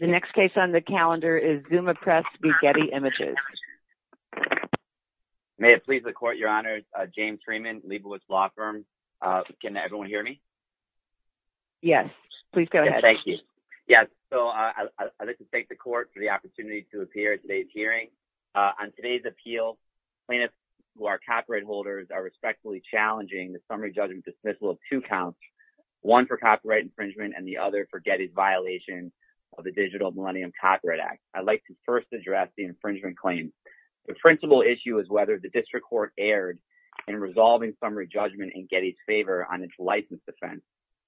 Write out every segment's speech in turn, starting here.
The next case on the calendar is Zuma Press v. Getty Images. May it please the Court, Your Honors, James Treman, Leibowitz Law Firm. Can everyone hear me? Yes. Please go ahead. Thank you. Yes. So I'd like to thank the Court for the opportunity to appear at today's hearing. On today's appeal, plaintiffs who are copyright holders are respectfully challenging the summary judgment dismissal of two counts, one for copyright infringement and the other for Getty's violation of the Digital Millennium Copyright Act. I'd like to first address the infringement claim. The principal issue is whether the district court erred in resolving summary judgment in Getty's favor on its license defense,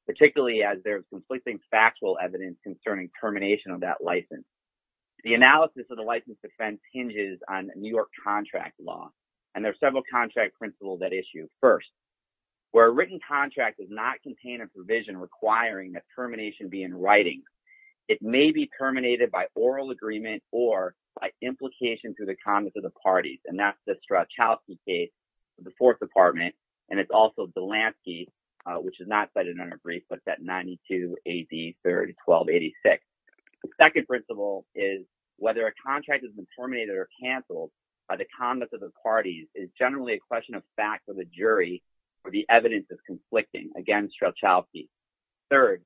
particularly as there is conflicting factual evidence concerning termination of that license. The analysis of the license defense hinges on New York contract law, and there are several contract principles at issue. The first, where a written contract does not contain a provision requiring that termination be in writing, it may be terminated by oral agreement or by implication through the Congress of the Parties. And that's the Strauchowski case in the Fourth Department, and it's also the Delansky, which is not cited in our brief, but it's at 92 AD 31286. The second principle is whether a contract has been terminated or canceled by the Congress of the Parties is generally a question of fact of the jury, or the evidence is conflicting against Strauchowski. Third,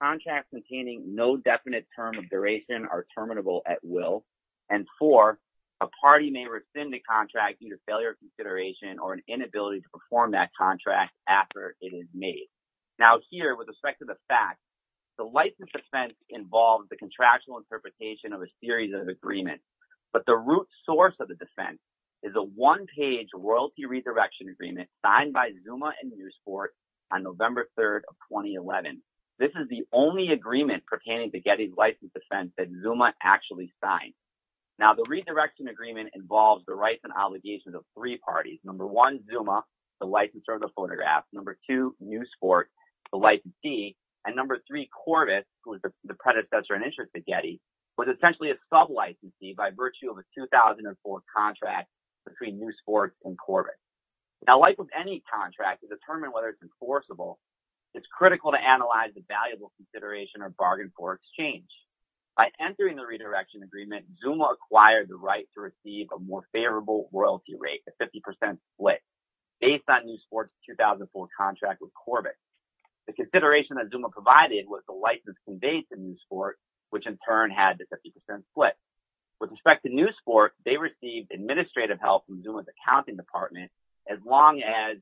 contracts containing no definite term of duration are terminable at will. And four, a party may rescind the contract due to failure of consideration or an inability to perform that contract after it is made. Now here, with respect to the fact, the license defense involves the contractual interpretation of a series of agreements, but the root source of the defense is a one-page royalty resurrection agreement signed by Zuma and Newsport on November 3rd of 2011. This is the only agreement pertaining to Getty's license defense that Zuma actually signed. Now the resurrection agreement involves the rights and obligations of three parties. Number one, Zuma, the licensor of the photograph. Number two, Newsport, the licensee. And number three, Corbett, who was the predecessor and interest to Getty, was essentially a sub-licensee by virtue of a 2004 contract between Newsport and Corbett. Now like with any contract, to determine whether it's enforceable, it's critical to analyze the valuable consideration or bargain for exchange. By entering the redirection agreement, Zuma acquired the right to receive a more favorable royalty rate, a 50% split, based on Newsport's 2004 contract with Corbett. The consideration that Zuma provided was the license conveyed to Newsport, which in turn had the 50% split. With respect to Newsport, they received administrative help from Zuma's accounting department, as long as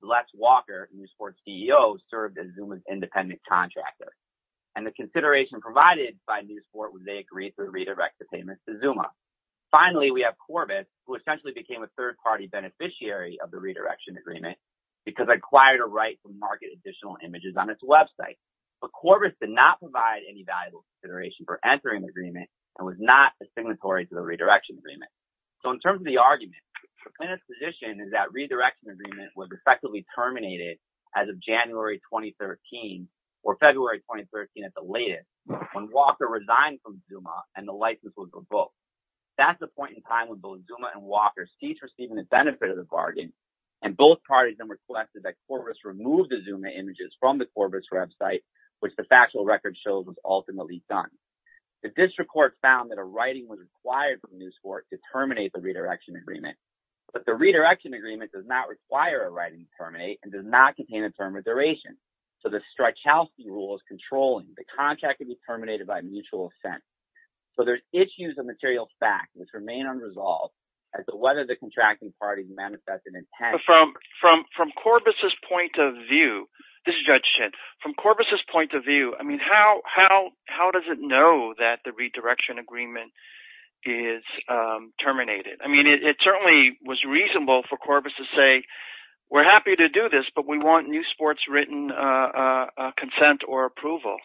Les Walker, Newsport's CEO, served as Zuma's independent contractor. And the consideration provided by Newsport was they agreed to redirect the payments to Zuma. Finally, we have Corbett, who essentially became a third-party beneficiary of the redirection agreement because it acquired a right to market additional images on its website. But Corbett did not provide any valuable consideration for entering the agreement and was not a signatory to the redirection agreement. So in terms of the argument, the plaintiff's position is that the redirection agreement was effectively terminated as of January 2013, or February 2013 at the latest, when Walker resigned from Zuma and the license was revoked. That's the point in time when both Zuma and Walker ceased receiving the benefit of the Both parties then requested that Corbett remove the Zuma images from the Corbett's website, which the factual record shows was ultimately done. The district court found that a writing was required from Newsport to terminate the redirection agreement. But the redirection agreement does not require a writing to terminate and does not contain a term of duration. So the Streichowski rule is controlling the contract to be terminated by mutual assent. So there's issues of material fact which remain unresolved as to whether the contracting parties manifest an intent. From Corbett's point of view, this is Judge Schen, from Corbett's point of view, I mean, how does it know that the redirection agreement is terminated? I mean, it certainly was reasonable for Corbett to say, we're happy to do this, but we want Newsport's written consent or approval.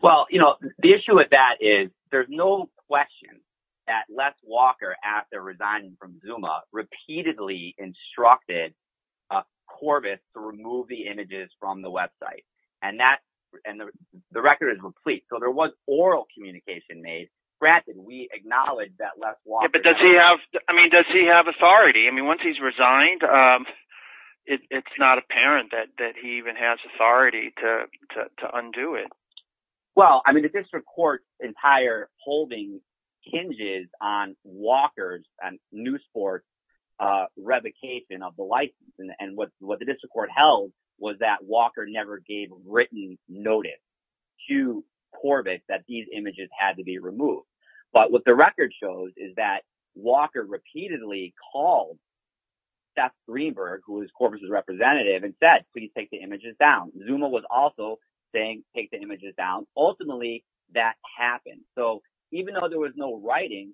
Well, you know, the issue with that is there's no question that Les Walker, after resigning from Zuma, repeatedly instructed Corbett to remove the images from the website. And that, and the record is replete. So there was oral communication made. Granted, we acknowledge that Les Walker- But does he have, I mean, does he have authority? I mean, once he's resigned, it's not apparent that he even has authority to undo it. Well, I mean, the district court's entire holding hinges on Walker's and Newsport's revocation of the license. And what the district court held was that Walker never gave written notice to Corbett that these images had to be removed. But what the record shows is that Walker repeatedly called Seth Greenberg, who is Corbett's representative, and said, please take the images down. Zuma was also saying, take the images down. Ultimately, that happened. So even though there was no writing,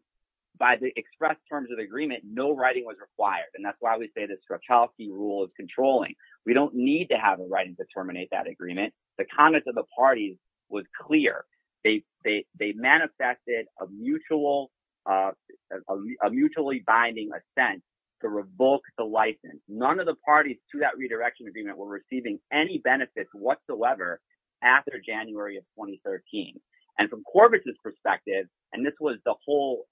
by the expressed terms of the agreement, no writing was required. And that's why we say the Strachowski rule of controlling. We don't need to have a writing to terminate that agreement. The comments of the parties was clear. They manifested a mutually binding assent to revoke the license. None of the parties to that redirection agreement were receiving any benefits whatsoever after January of 2013. And from Corbett's perspective, and this was the whole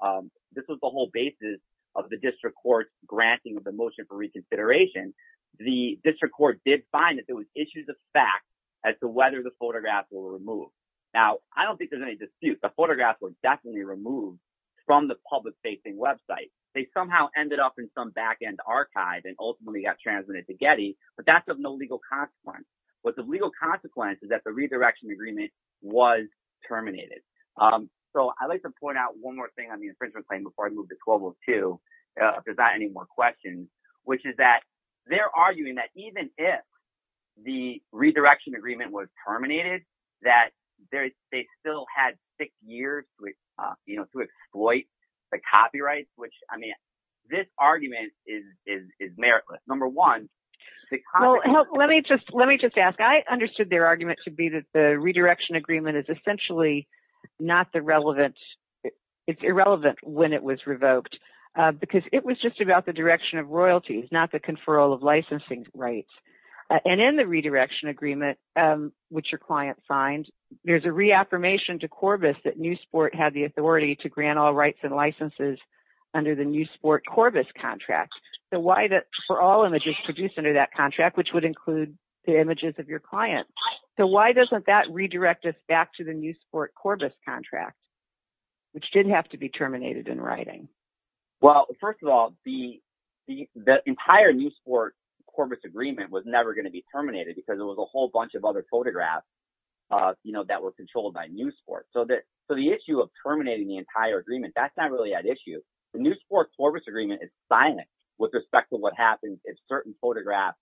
basis of the district court's granting of the motion for reconsideration, the district court did find that there was issues of fact as to whether the photographs were removed. Now, I don't think there's any dispute. The photographs were definitely removed from the public-facing website. They somehow ended up in some back-end archive and ultimately got transmitted to Getty, but that's of no legal consequence. What's of legal consequence is that the redirection agreement was terminated. So I'd like to point out one more thing on the infringement claim before I move to 1202, if there's not any more questions, which is that they're arguing that even if the redirection I mean, this argument is meritless. Number one, let me just let me just ask. I understood their argument to be that the redirection agreement is essentially not the relevant. It's irrelevant when it was revoked because it was just about the direction of royalties, not the conferral of licensing rights. And in the redirection agreement, which your client signed, there's a reaffirmation to Corbis that New Sport had the authority to grant all rights and licenses under the New Sport Corbis contract. So why that for all images produced under that contract, which would include the images of your client. So why doesn't that redirect us back to the New Sport Corbis contract, which did have to be terminated in writing? Well, first of all, the entire New Sport Corbis agreement was never going to be terminated because it was a whole bunch of other photographs that were controlled by so the issue of terminating the entire agreement, that's not really an issue. The New Sport Corbis agreement is silent with respect to what happens if certain photographs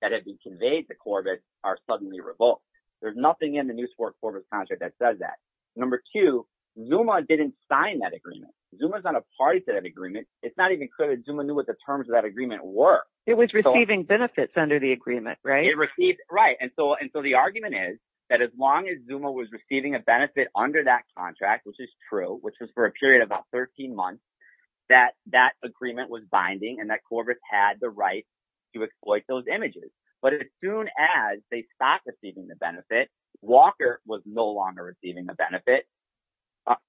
that have been conveyed to Corbis are suddenly revoked. There's nothing in the New Sport Corbis contract that says that. Number two, Zuma didn't sign that agreement. Zuma's not a party to that agreement. It's not even clear that Zuma knew what the terms of that agreement were. It was receiving benefits under the agreement, right? It received. Right. And so and so the argument is that as long as Zuma was receiving a contract, which is true, which was for a period of about 13 months, that that agreement was binding and that Corbis had the right to exploit those images. But as soon as they stopped receiving the benefit, Walker was no longer receiving the benefit.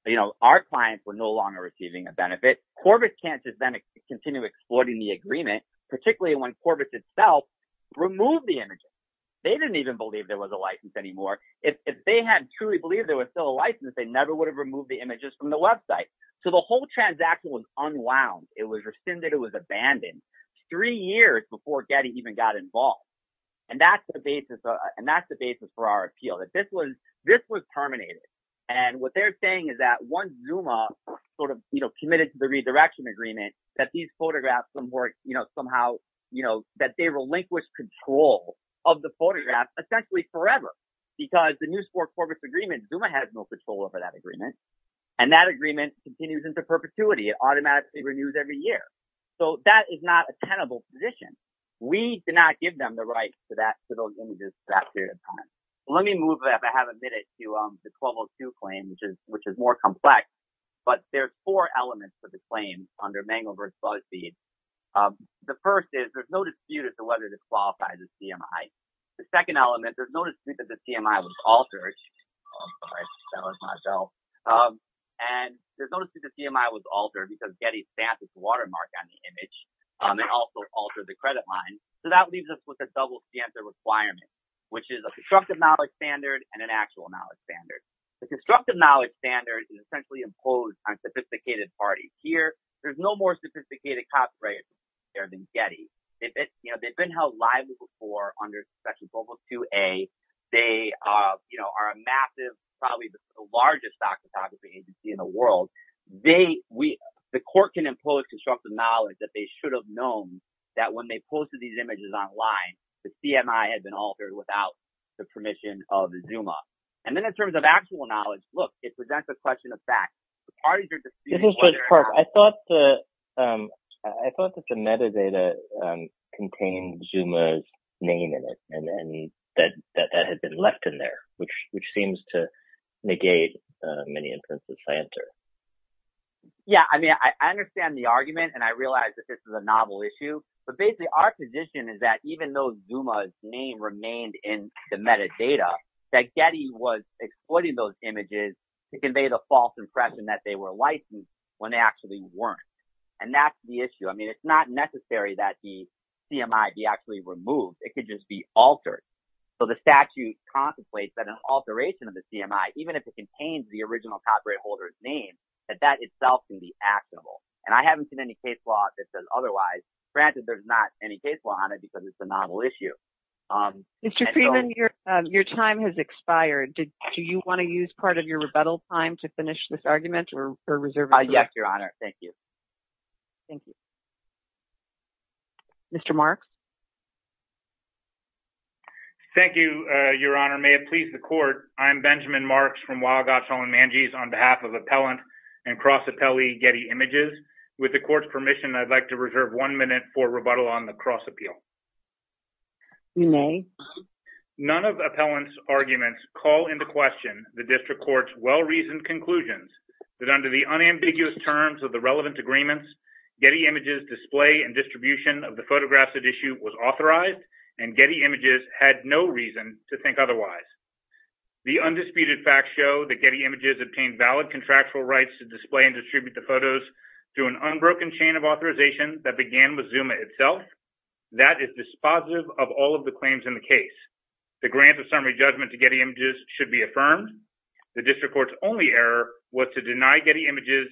You know, our clients were no longer receiving a benefit. Corbis can't just then continue exploiting the agreement, particularly when Corbis itself removed the images. They didn't even believe there was a license anymore. If they had truly believed there was still a license, they never would have removed the images from the website. So the whole transaction was unwound. It was rescinded. It was abandoned three years before Getty even got involved. And that's the basis. And that's the basis for our appeal, that this was this was terminated. And what they're saying is that once Zuma sort of committed to the redirection agreement, that these photographs were somehow, you know, that they relinquished control of the photograph essentially forever because the new sport Corbis agreement, Zuma has no control over that agreement. And that agreement continues into perpetuity. It automatically renews every year. So that is not a tenable position. We did not give them the right to that, to those images that period of time. Let me move, if I have a minute, to the 1202 claim, which is which is more complex. But there are four elements to the claim under Mangelberg's BuzzFeed. The first is there's no dispute as to whether this qualifies as CMI. The second element, there's no dispute that the CMI was altered. Oh, sorry, that was myself. And there's no dispute that the CMI was altered because Getty stamped this watermark on the image and also altered the credit line. So that leaves us with a double standard requirement, which is a constructive knowledge standard and an actual knowledge standard. The constructive knowledge standard is essentially imposed on sophisticated parties. Here, there's no more sophisticated copyright there than Getty. If it's you know, they've been held liable for under Section Volvo 2A. They are a massive, probably the largest stock photography agency in the world. They we the court can impose constructive knowledge that they should have known that when they posted these images online, the CMI had been altered without the permission of Zuma. And then in terms of actual knowledge, look, it presents a question of fact. The parties are disputing. I thought the I thought that the metadata contained Zuma's name in it and that that had been left in there, which which seems to negate many instances I enter. Yeah, I mean, I understand the argument and I realize that this is a novel issue, but basically our position is that even though Zuma's name remained in the metadata, that Getty was exploiting those images to give a false impression that they were licensed when they actually weren't. And that's the issue. I mean, it's not necessary that the CMI be actually removed. It could just be altered. So the statute contemplates that an alteration of the CMI, even if it contains the original copyright holder's name, that that itself can be actionable. And I haven't seen any case law that says otherwise. Granted, there's not any case law on it because it's a novel issue. Mr. Freeman, your time has expired. Do you want to use part of your rebuttal time to finish this argument or reserve? Yes, Your Honor. Thank you. Thank you. Mr. Mark. Thank you, Your Honor, may it please the court, I'm Benjamin Marks from Wild Gottschall and Manjis on behalf of Appellant and Cross Appellee Getty Images. With the court's permission, I'd like to reserve one minute for rebuttal on the cross appeal. None of the appellant's arguments call into question the district court's well-reasoned conclusions that under the unambiguous terms of the relevant agreements, Getty Images' display and distribution of the photographs at issue was authorized and Getty Images had no reason to think otherwise. The undisputed facts show that Getty Images obtained valid contractual rights to display and distribute the photos to an unbroken chain of authorization that began with Zuma itself. That is dispositive of all of the claims in the case. The grant of summary judgment to Getty Images should be affirmed. The district court's only error was to deny Getty Images'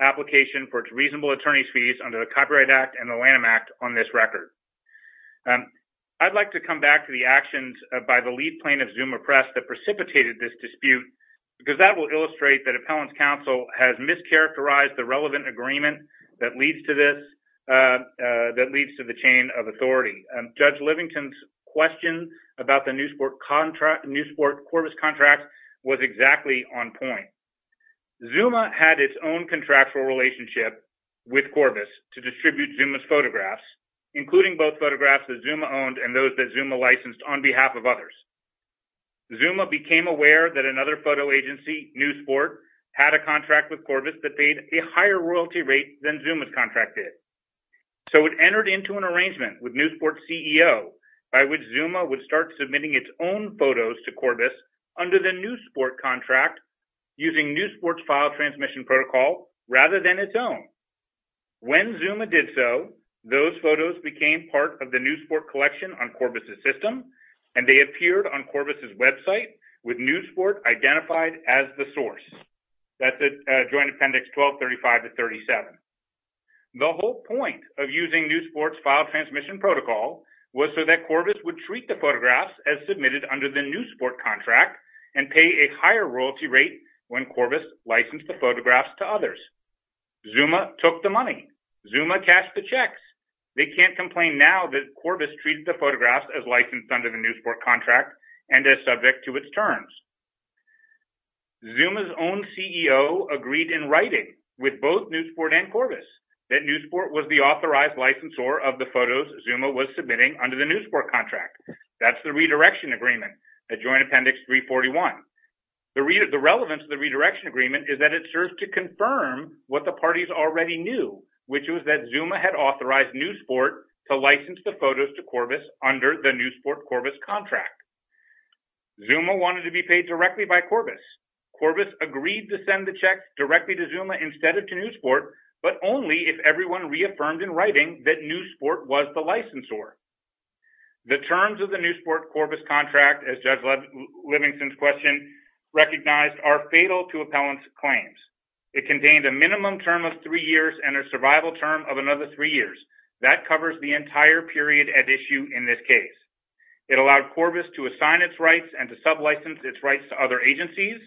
application for its reasonable attorney's fees under the Copyright Act and the Lanham Act on this record. I'd like to come back to the actions by the lead plaintiff, Zuma Press, that precipitated this dispute because that will illustrate that appellant's counsel has mischaracterized the relevant agreement that leads to this, that leads to the chain of authority. Judge Livington's question about the Newsport-Corvus contract was exactly on point. Zuma had its own contractual relationship with Corvus to distribute Zuma's photographs, including both photographs that Zuma owned and those that Zuma licensed on behalf of others. Zuma became aware that another photo agency, Newsport, had a contract with Corvus that paid a higher royalty rate than Zuma's contract did. So it entered into an arrangement with Newsport's CEO by which Zuma would start submitting its own photos to Corvus under the Newsport contract using Newsport's file transmission protocol rather than its own. When Zuma did so, those photos became part of the Newsport collection on Corvus's system, and they appeared on Corvus's website with Newsport identified as the source. That's at Joint Appendix 1235 to 37. The whole point of using Newsport's file transmission protocol was so that Corvus would treat the photographs as submitted under the Newsport contract and pay a higher royalty rate when Corvus licensed the photographs to others. Zuma took the money. Zuma cashed the checks. They can't complain now that Corvus treated the photographs as licensed under the Newsport contract and as subject to its terms. Zuma's own CEO agreed in writing with both Newsport and Corvus that Newsport was the authorized licensor of the photos Zuma was submitting under the Newsport contract. That's the redirection agreement at Joint Appendix 341. The relevance of the redirection agreement is that it serves to confirm what the parties already knew, which was that Zuma had authorized Newsport to license the photos to Corvus under the Newsport-Corvus contract. Zuma wanted to be paid directly by Corvus. Corvus agreed to send the checks directly to Zuma instead of to Newsport, but only if everyone reaffirmed in writing that Newsport was the licensor. The terms of the Newsport-Corvus contract, as Judge Livingston's question recognized, are fatal to appellant's claims. It contained a minimum term of three years and a survival term of another three years. That covers the entire period at issue in this case. It allowed Corvus to assign its rights and to sub-license its rights to other agencies.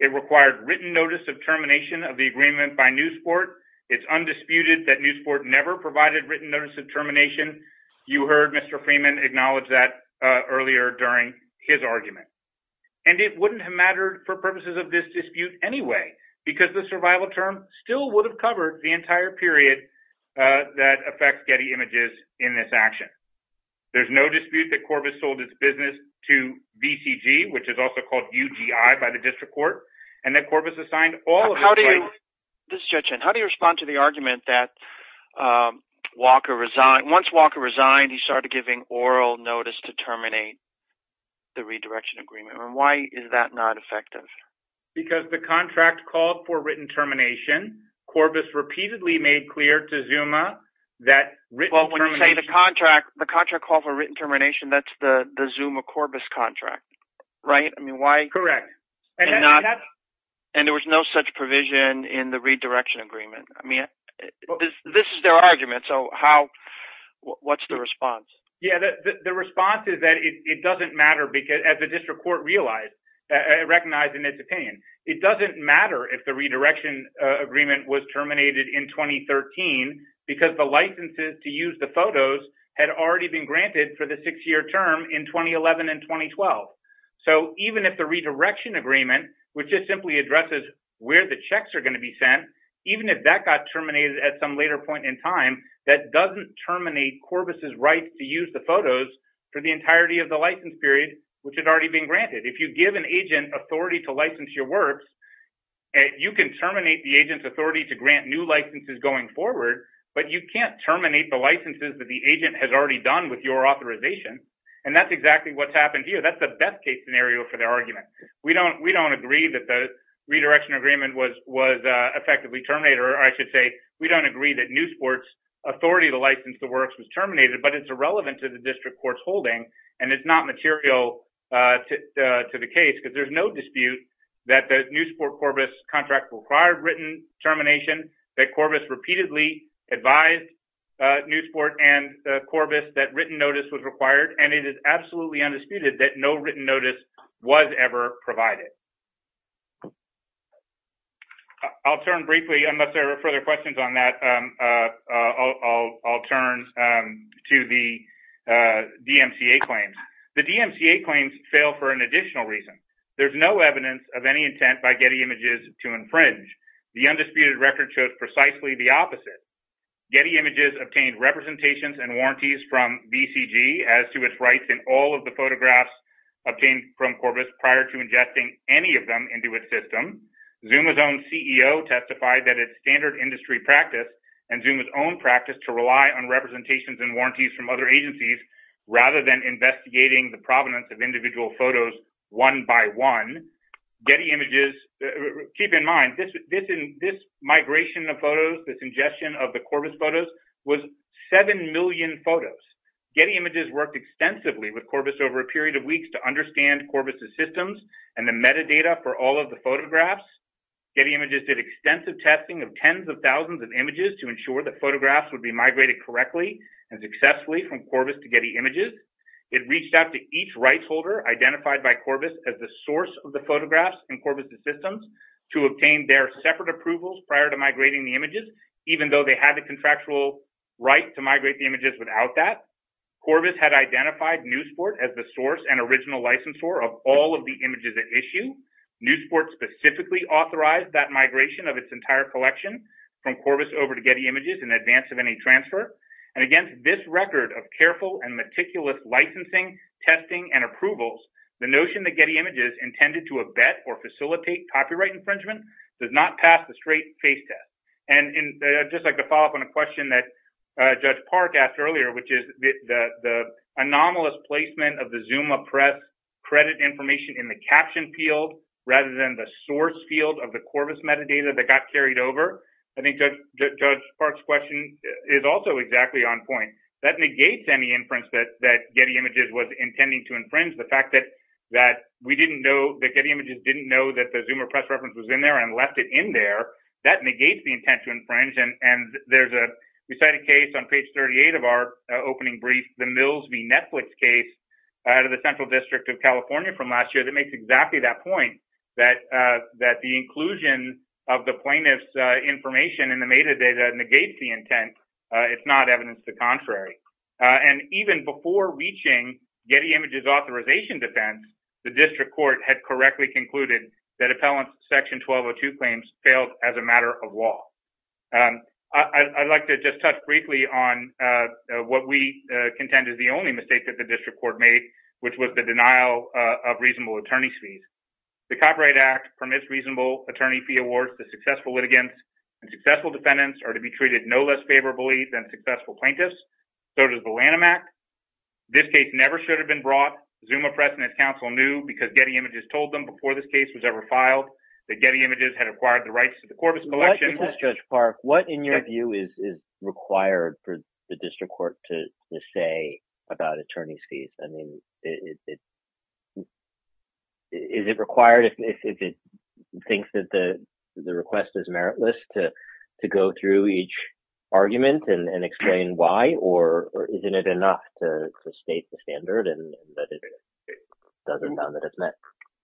It required written notice of termination of the agreement by Newsport. It's undisputed that Newsport never provided written notice of termination. You heard Mr. Freeman acknowledge that earlier during his argument. And it wouldn't have mattered for purposes of this dispute anyway, because the survival term still would have covered the entire period that affects Getty Images in this action. There's no dispute that Corvus sold its business to VCG, which is also called UGI by the district court, and that Corvus assigned all of its rights. This is Judge Hinn. How do you respond to the argument that Walker resigned? Once Walker resigned, he started giving oral notice to terminate the redirection agreement. And why is that not effective? Because the contract called for written termination. Corvus repeatedly made clear to Zuma that written termination... Well, when you say the contract, the contract called for written termination, that's the Zuma-Corvus contract, right? I mean, why? Correct. And there was no such provision in the redirection agreement. I mean, this is their argument. So how, what's the response? Yeah, the response is that it doesn't matter because as the district court realized, recognized in its opinion, it doesn't matter if the photos had already been granted for the six-year term in 2011 and 2012. So even if the redirection agreement, which just simply addresses where the checks are going to be sent, even if that got terminated at some later point in time, that doesn't terminate Corvus' rights to use the photos for the entirety of the license period, which had already been granted. If you give an agent authority to license your works, you can terminate the agent's authority to grant new licenses going forward, but you can't terminate the licenses that the agent has already done with your authorization. And that's exactly what's happened here. That's the best case scenario for their argument. We don't, we don't agree that the redirection agreement was, was effectively terminated. Or I should say, we don't agree that Newsport's authority to license the works was terminated, but it's irrelevant to the district court's holding and it's not material to the case because there's no dispute that the Newsport-Corvus contract required written termination that Corvus repeatedly advised Newsport and Corvus that written notice was required, and it is absolutely undisputed that no written notice was ever provided. I'll turn briefly, unless there are further questions on that, I'll turn to the DMCA claims. The DMCA claims fail for an additional reason. There's no evidence of any intent by Getty Images to infringe. The undisputed record shows precisely the opposite. Getty Images obtained representations and warranties from BCG as to its rights in all of the photographs obtained from Corvus prior to ingesting any of them into its system. Zuma's own CEO testified that it's standard industry practice and Zuma's own practice to rely on representations and warranties from other agencies rather than investigating the provenance of individual photos one by one. Getty Images, keep in mind, this migration of photos, this ingestion of the Corvus photos was 7 million photos. Getty Images worked extensively with Corvus over a period of weeks to understand Corvus' systems and the metadata for all of the photographs. Getty Images did extensive testing of tens of thousands of images to ensure that photographs would be migrated correctly and successfully from Corvus to Getty Images. It reached out to each rights holder identified by Corvus as the source of the photographs in Corvus' systems to obtain their separate approvals prior to migrating the images, even though they had the contractual right to migrate the images without that. Corvus had identified NewSport as the source and original licensor of all of the images at issue. NewSport specifically authorized that migration of its entire collection from Corvus over to Getty Images in advance of any transfer. And against this record of careful and meticulous licensing, testing and approvals, the notion that Getty Images intended to abet or facilitate copyright infringement does not pass the straight face test. And I'd just like to follow up on a question that Judge Park asked earlier, which is the anomalous placement of the Zuma Press credit information in the caption field rather than the source field of the Corvus metadata that got carried over. I think Judge Park's question is also exactly on point. That negates any inference that Getty Images was intending to infringe. The fact that we didn't know, that Getty Images didn't know that the Zuma Press reference was in there and left it in there, that negates the intent to infringe. And there's a recited case on page 38 of our opening brief, the Mills v. Netflix case out of the Central District of California from last year that makes exactly that point, that the inclusion of the plaintiff's information in the metadata negates the intent. It's not evidence to the contrary. And even before reaching Getty Images authorization defense, the district court had correctly concluded that appellant section 1202 claims failed as a matter of law. I'd like to just touch briefly on what we contend is the only mistake that the district court made, which was the denial of reasonable attorney's fees. The Copyright Act permits reasonable attorney fee awards to successful litigants and successful defendants are to be treated no less favorably than successful plaintiffs. So does the Lanham Act. This case never should have been brought. Zuma Press and its counsel knew because Getty Images told them before this case was ever filed, that Getty Images had acquired the rights to the Corbis collection. What, Judge Park, what in your view is required for the district court to say about attorney's fees? I mean, is it required if it thinks that the request is meritless to go through each argument and explain why, or isn't it enough to state the standard and that it doesn't sound that it's met?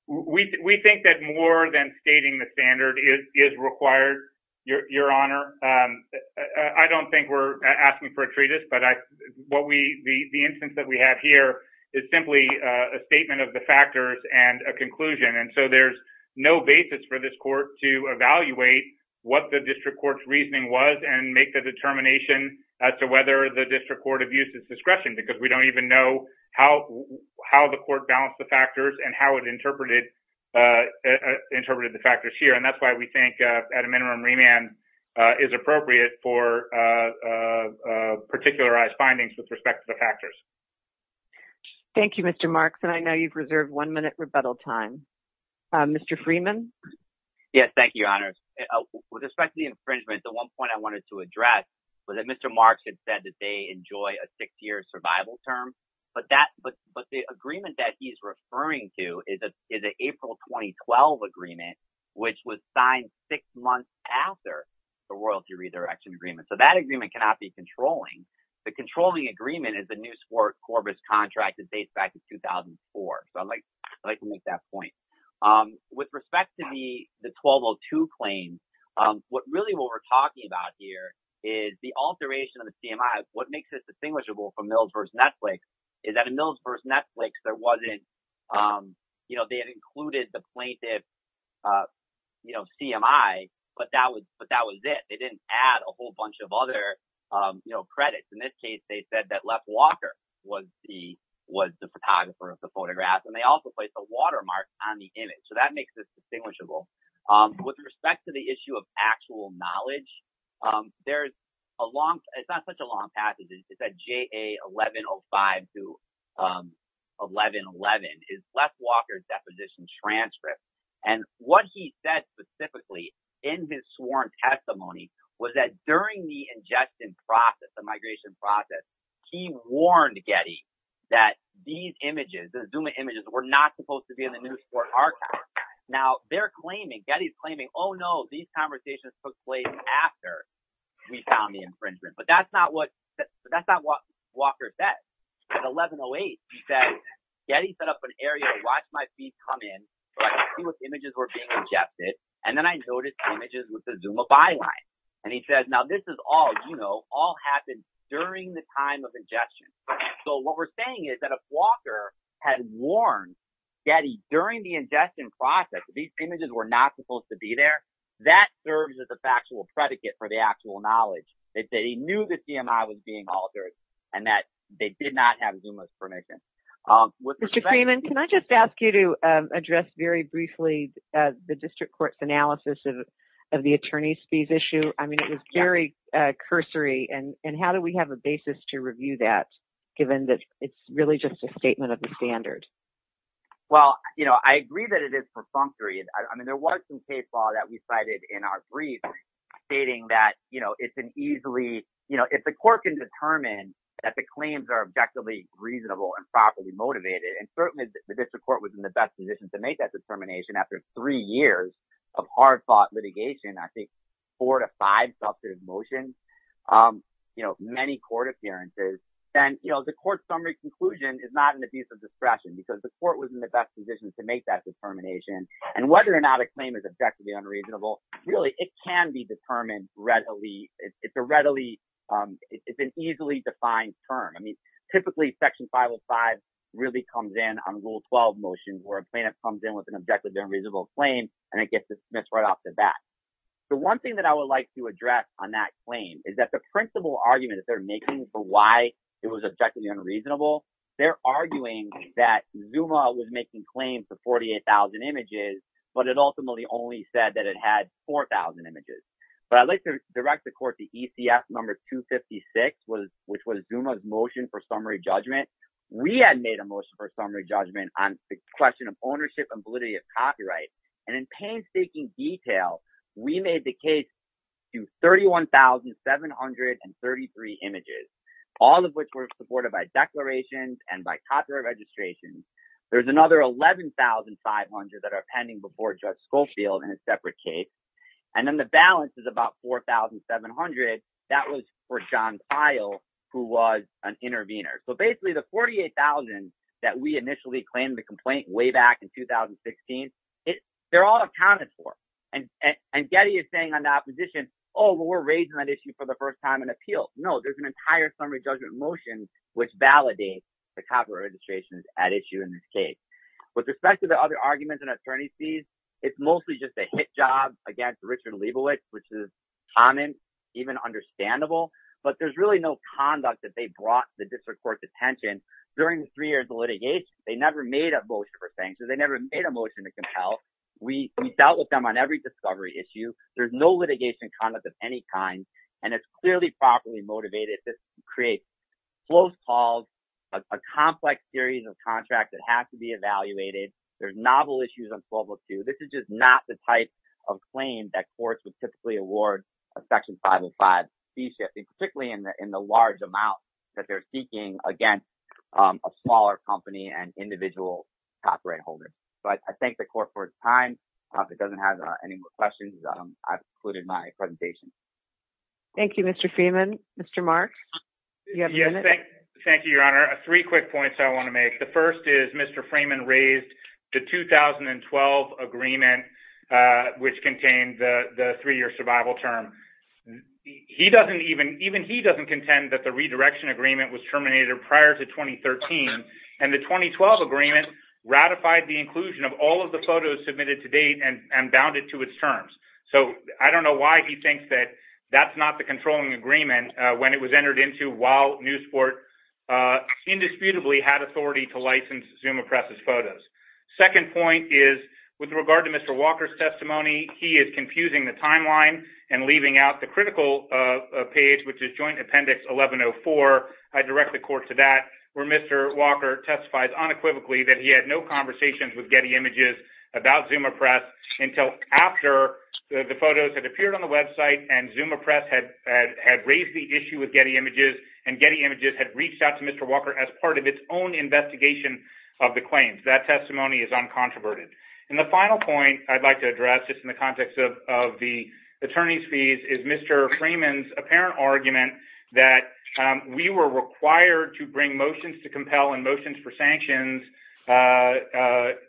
We think that more than stating the standard is required, Your Honor. I don't think we're asking for a treatise, but what we, the instance that we have here is simply a statement of the factors and a conclusion. And so there's no basis for this court to evaluate what the district court's reasoning was and make the determination as to whether the district court abused its discretion, because we don't even know how the court balanced the factors and how it interpreted the factors here. And that's why we think at a minimum remand is appropriate for particularized findings with respect to the factors. Thank you, Mr. Marks. And I know you've reserved one minute rebuttal time, Mr. Yes. Thank you, Your Honor. With respect to the infringement, the one point I wanted to address was that Mr. Marks had said that they enjoy a six year survival term, but that, but, but the agreement that he's referring to is a, is a April, 2012 agreement, which was signed six months after the royalty redirection agreement. So that agreement cannot be controlling. The controlling agreement is the new sport Corbett's contract that dates back to 2004. So I'm like, I like to make that point. With respect to the, the 1202 claim, what really, what we're talking about here is the alteration of the CMI. What makes this distinguishable from Mills versus Netflix is that in Mills versus Netflix, there wasn't, you know, they had included the plaintiff, you know, CMI, but that was, but that was it. They didn't add a whole bunch of other, you know, credits. In this case, they said that left Walker was the, was the photographer of the photographs, and they also placed a watermark on the image. So that makes this distinguishable. With respect to the issue of actual knowledge, there's a long, it's not such a long passage. It's at JA 1105 to 1111 is left Walker's deposition transcript. And what he said specifically in his sworn testimony was that during the ingestion process, the migration process, he warned Getty that these images, the zoom images were not supposed to be in the new sport archive. Now they're claiming Getty's claiming, Oh no, these conversations took place after we found the infringement. But that's not what, that's not what Walker said at 1108. He said, Getty set up an area to watch my feet come in, see what images were being ingested. And then I noticed images with the Zuma byline. And he says, now this is all, you know, all happened during the time of ingestion. So what we're saying is that if Walker had warned Getty during the ingestion process, these images were not supposed to be there, that serves as a factual predicate for the actual knowledge. They say he knew the CMI was being altered and that they did not have Zuma's permission. Um, Mr. Freeman, can I just ask you to, um, address very briefly, uh, the district court's analysis of, of the attorney's fees issue? I mean, it was very, uh, cursory and, and how do we have a basis to review that given that it's really just a statement of the standard? Well, you know, I agree that it is perfunctory. And I mean, there was some case law that we cited in our brief stating that, you know, it's an easily, you know, if the court can determine that the claims are objectively reasonable and properly motivated, and certainly the district court was in the best position to make that determination after three years of hard fought litigation. I think four to five substantive motions. Um, you know, many court appearances and, you know, the court summary conclusion is not an abuse of discretion because the court was in the best position to make that determination. And whether or not a claim is objectively unreasonable, really it can be determined readily. It's a readily, um, it's an easily defined term. I mean, typically section 505 really comes in on rule 12 motions where a plaintiff comes in with an objective unreasonable claim and it gets dismissed right off the bat. The one thing that I would like to address on that claim is that the principal argument that they're making for why it was objectively unreasonable. They're arguing that Zuma was making claims to 48,000 images, but it ultimately only said that it had 4,000 images. But I'd like to direct the court to ECF number 256 was, which was Zuma's motion for summary judgment. We had made a motion for summary judgment on the question of ownership and validity of copyright. And in painstaking detail, we made the case to 31,733 images, all of which were supported by declarations and by copyright registrations, there's another 11,500 that are pending before judge Schofield in a separate case. And then the balance is about 4,700. That was for Sean file who was an intervener. So basically the 48,000 that we initially claimed the complaint way back in 2016, they're all accounted for. And, and, and Getty is saying on that position, Oh, we're raising that issue for the first time in appeal. No, there's an entire summary judgment motion, which validates the copyright registrations at issue in this case with respect to the other arguments and It's mostly just a hit job against Richard Leibovitz, which is common, even understandable, but there's really no conduct that they brought the district court detention during the three years of litigation, they never made a motion for sanctions, they never made a motion to compel we dealt with them on every discovery issue, there's no litigation conduct of any kind, and it's clearly properly motivated to create close calls. A complex series of contracts that have to be evaluated. There's novel issues on 1202. This is just not the type of claim that courts would typically award a section 505, the shift, particularly in the, in the large amount that they're seeking against a smaller company and individual copyright holders. So I thank the court for its time. It doesn't have any more questions. I've included my presentation. Thank you, Mr. Freeman, Mr. Mark. Thank you, your honor, three quick points I want to make. The first is Mr. Freeman raised the 2012 agreement, which contained the three year survival term. He doesn't even, even he doesn't contend that the redirection agreement was terminated prior to 2013. And the 2012 agreement ratified the inclusion of all of the photos submitted to date and, and bounded to its terms. So I don't know why he thinks that that's not the controlling agreement when it was entered into while new sport indisputably had authority to license Zuma presses photos. Second point is with regard to Mr. Walker's testimony, he is confusing the timeline and leaving out the critical page, which is joint appendix 1104. I direct the court to that where Mr. Walker testifies unequivocally that he had no conversations with Getty images about Zuma press until after the photos had appeared on the website and Zuma press had, had, had raised the issue with Getty images and Getty images had reached out to Mr. Walker as part of its own investigation of the claims that testimony is uncontroverted and the final point I'd like to address just in the context of, of the attorney's fees is Mr. Freeman's apparent argument that we were required to bring motions to compel and motions for sanctions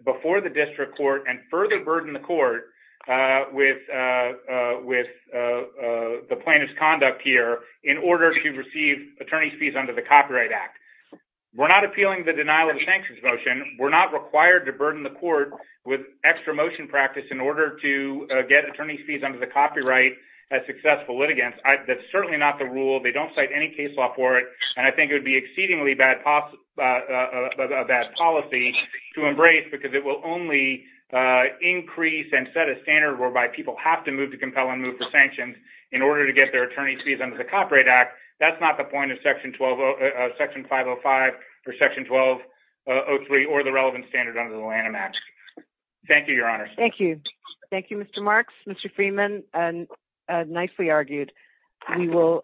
before the district court and further burden the court, uh, with, uh, uh, with, uh, uh, the plaintiff's conduct here in order to receive attorney's fees under the copyright act, we're not appealing the denial of the sanctions motion. We're not required to burden the court with extra motion practice in order to get attorney's fees under the copyright as successful litigants. I that's certainly not the rule. They don't cite any case law for it. And I think it would be exceedingly bad. Uh, uh, uh, a bad policy to embrace because it will only, uh, increase and set a standard whereby people have to move to compel and move for sanctions in order to get their attorney's fees under the copyright act. That's not the point of section 12, uh, section five Oh five or section 12, uh, Oh three, or the relevant standard under the Lanham act. Thank you, your honor. Thank you. Thank you, Mr. Marks, Mr. Freeman. And, uh, nicely argued. We will.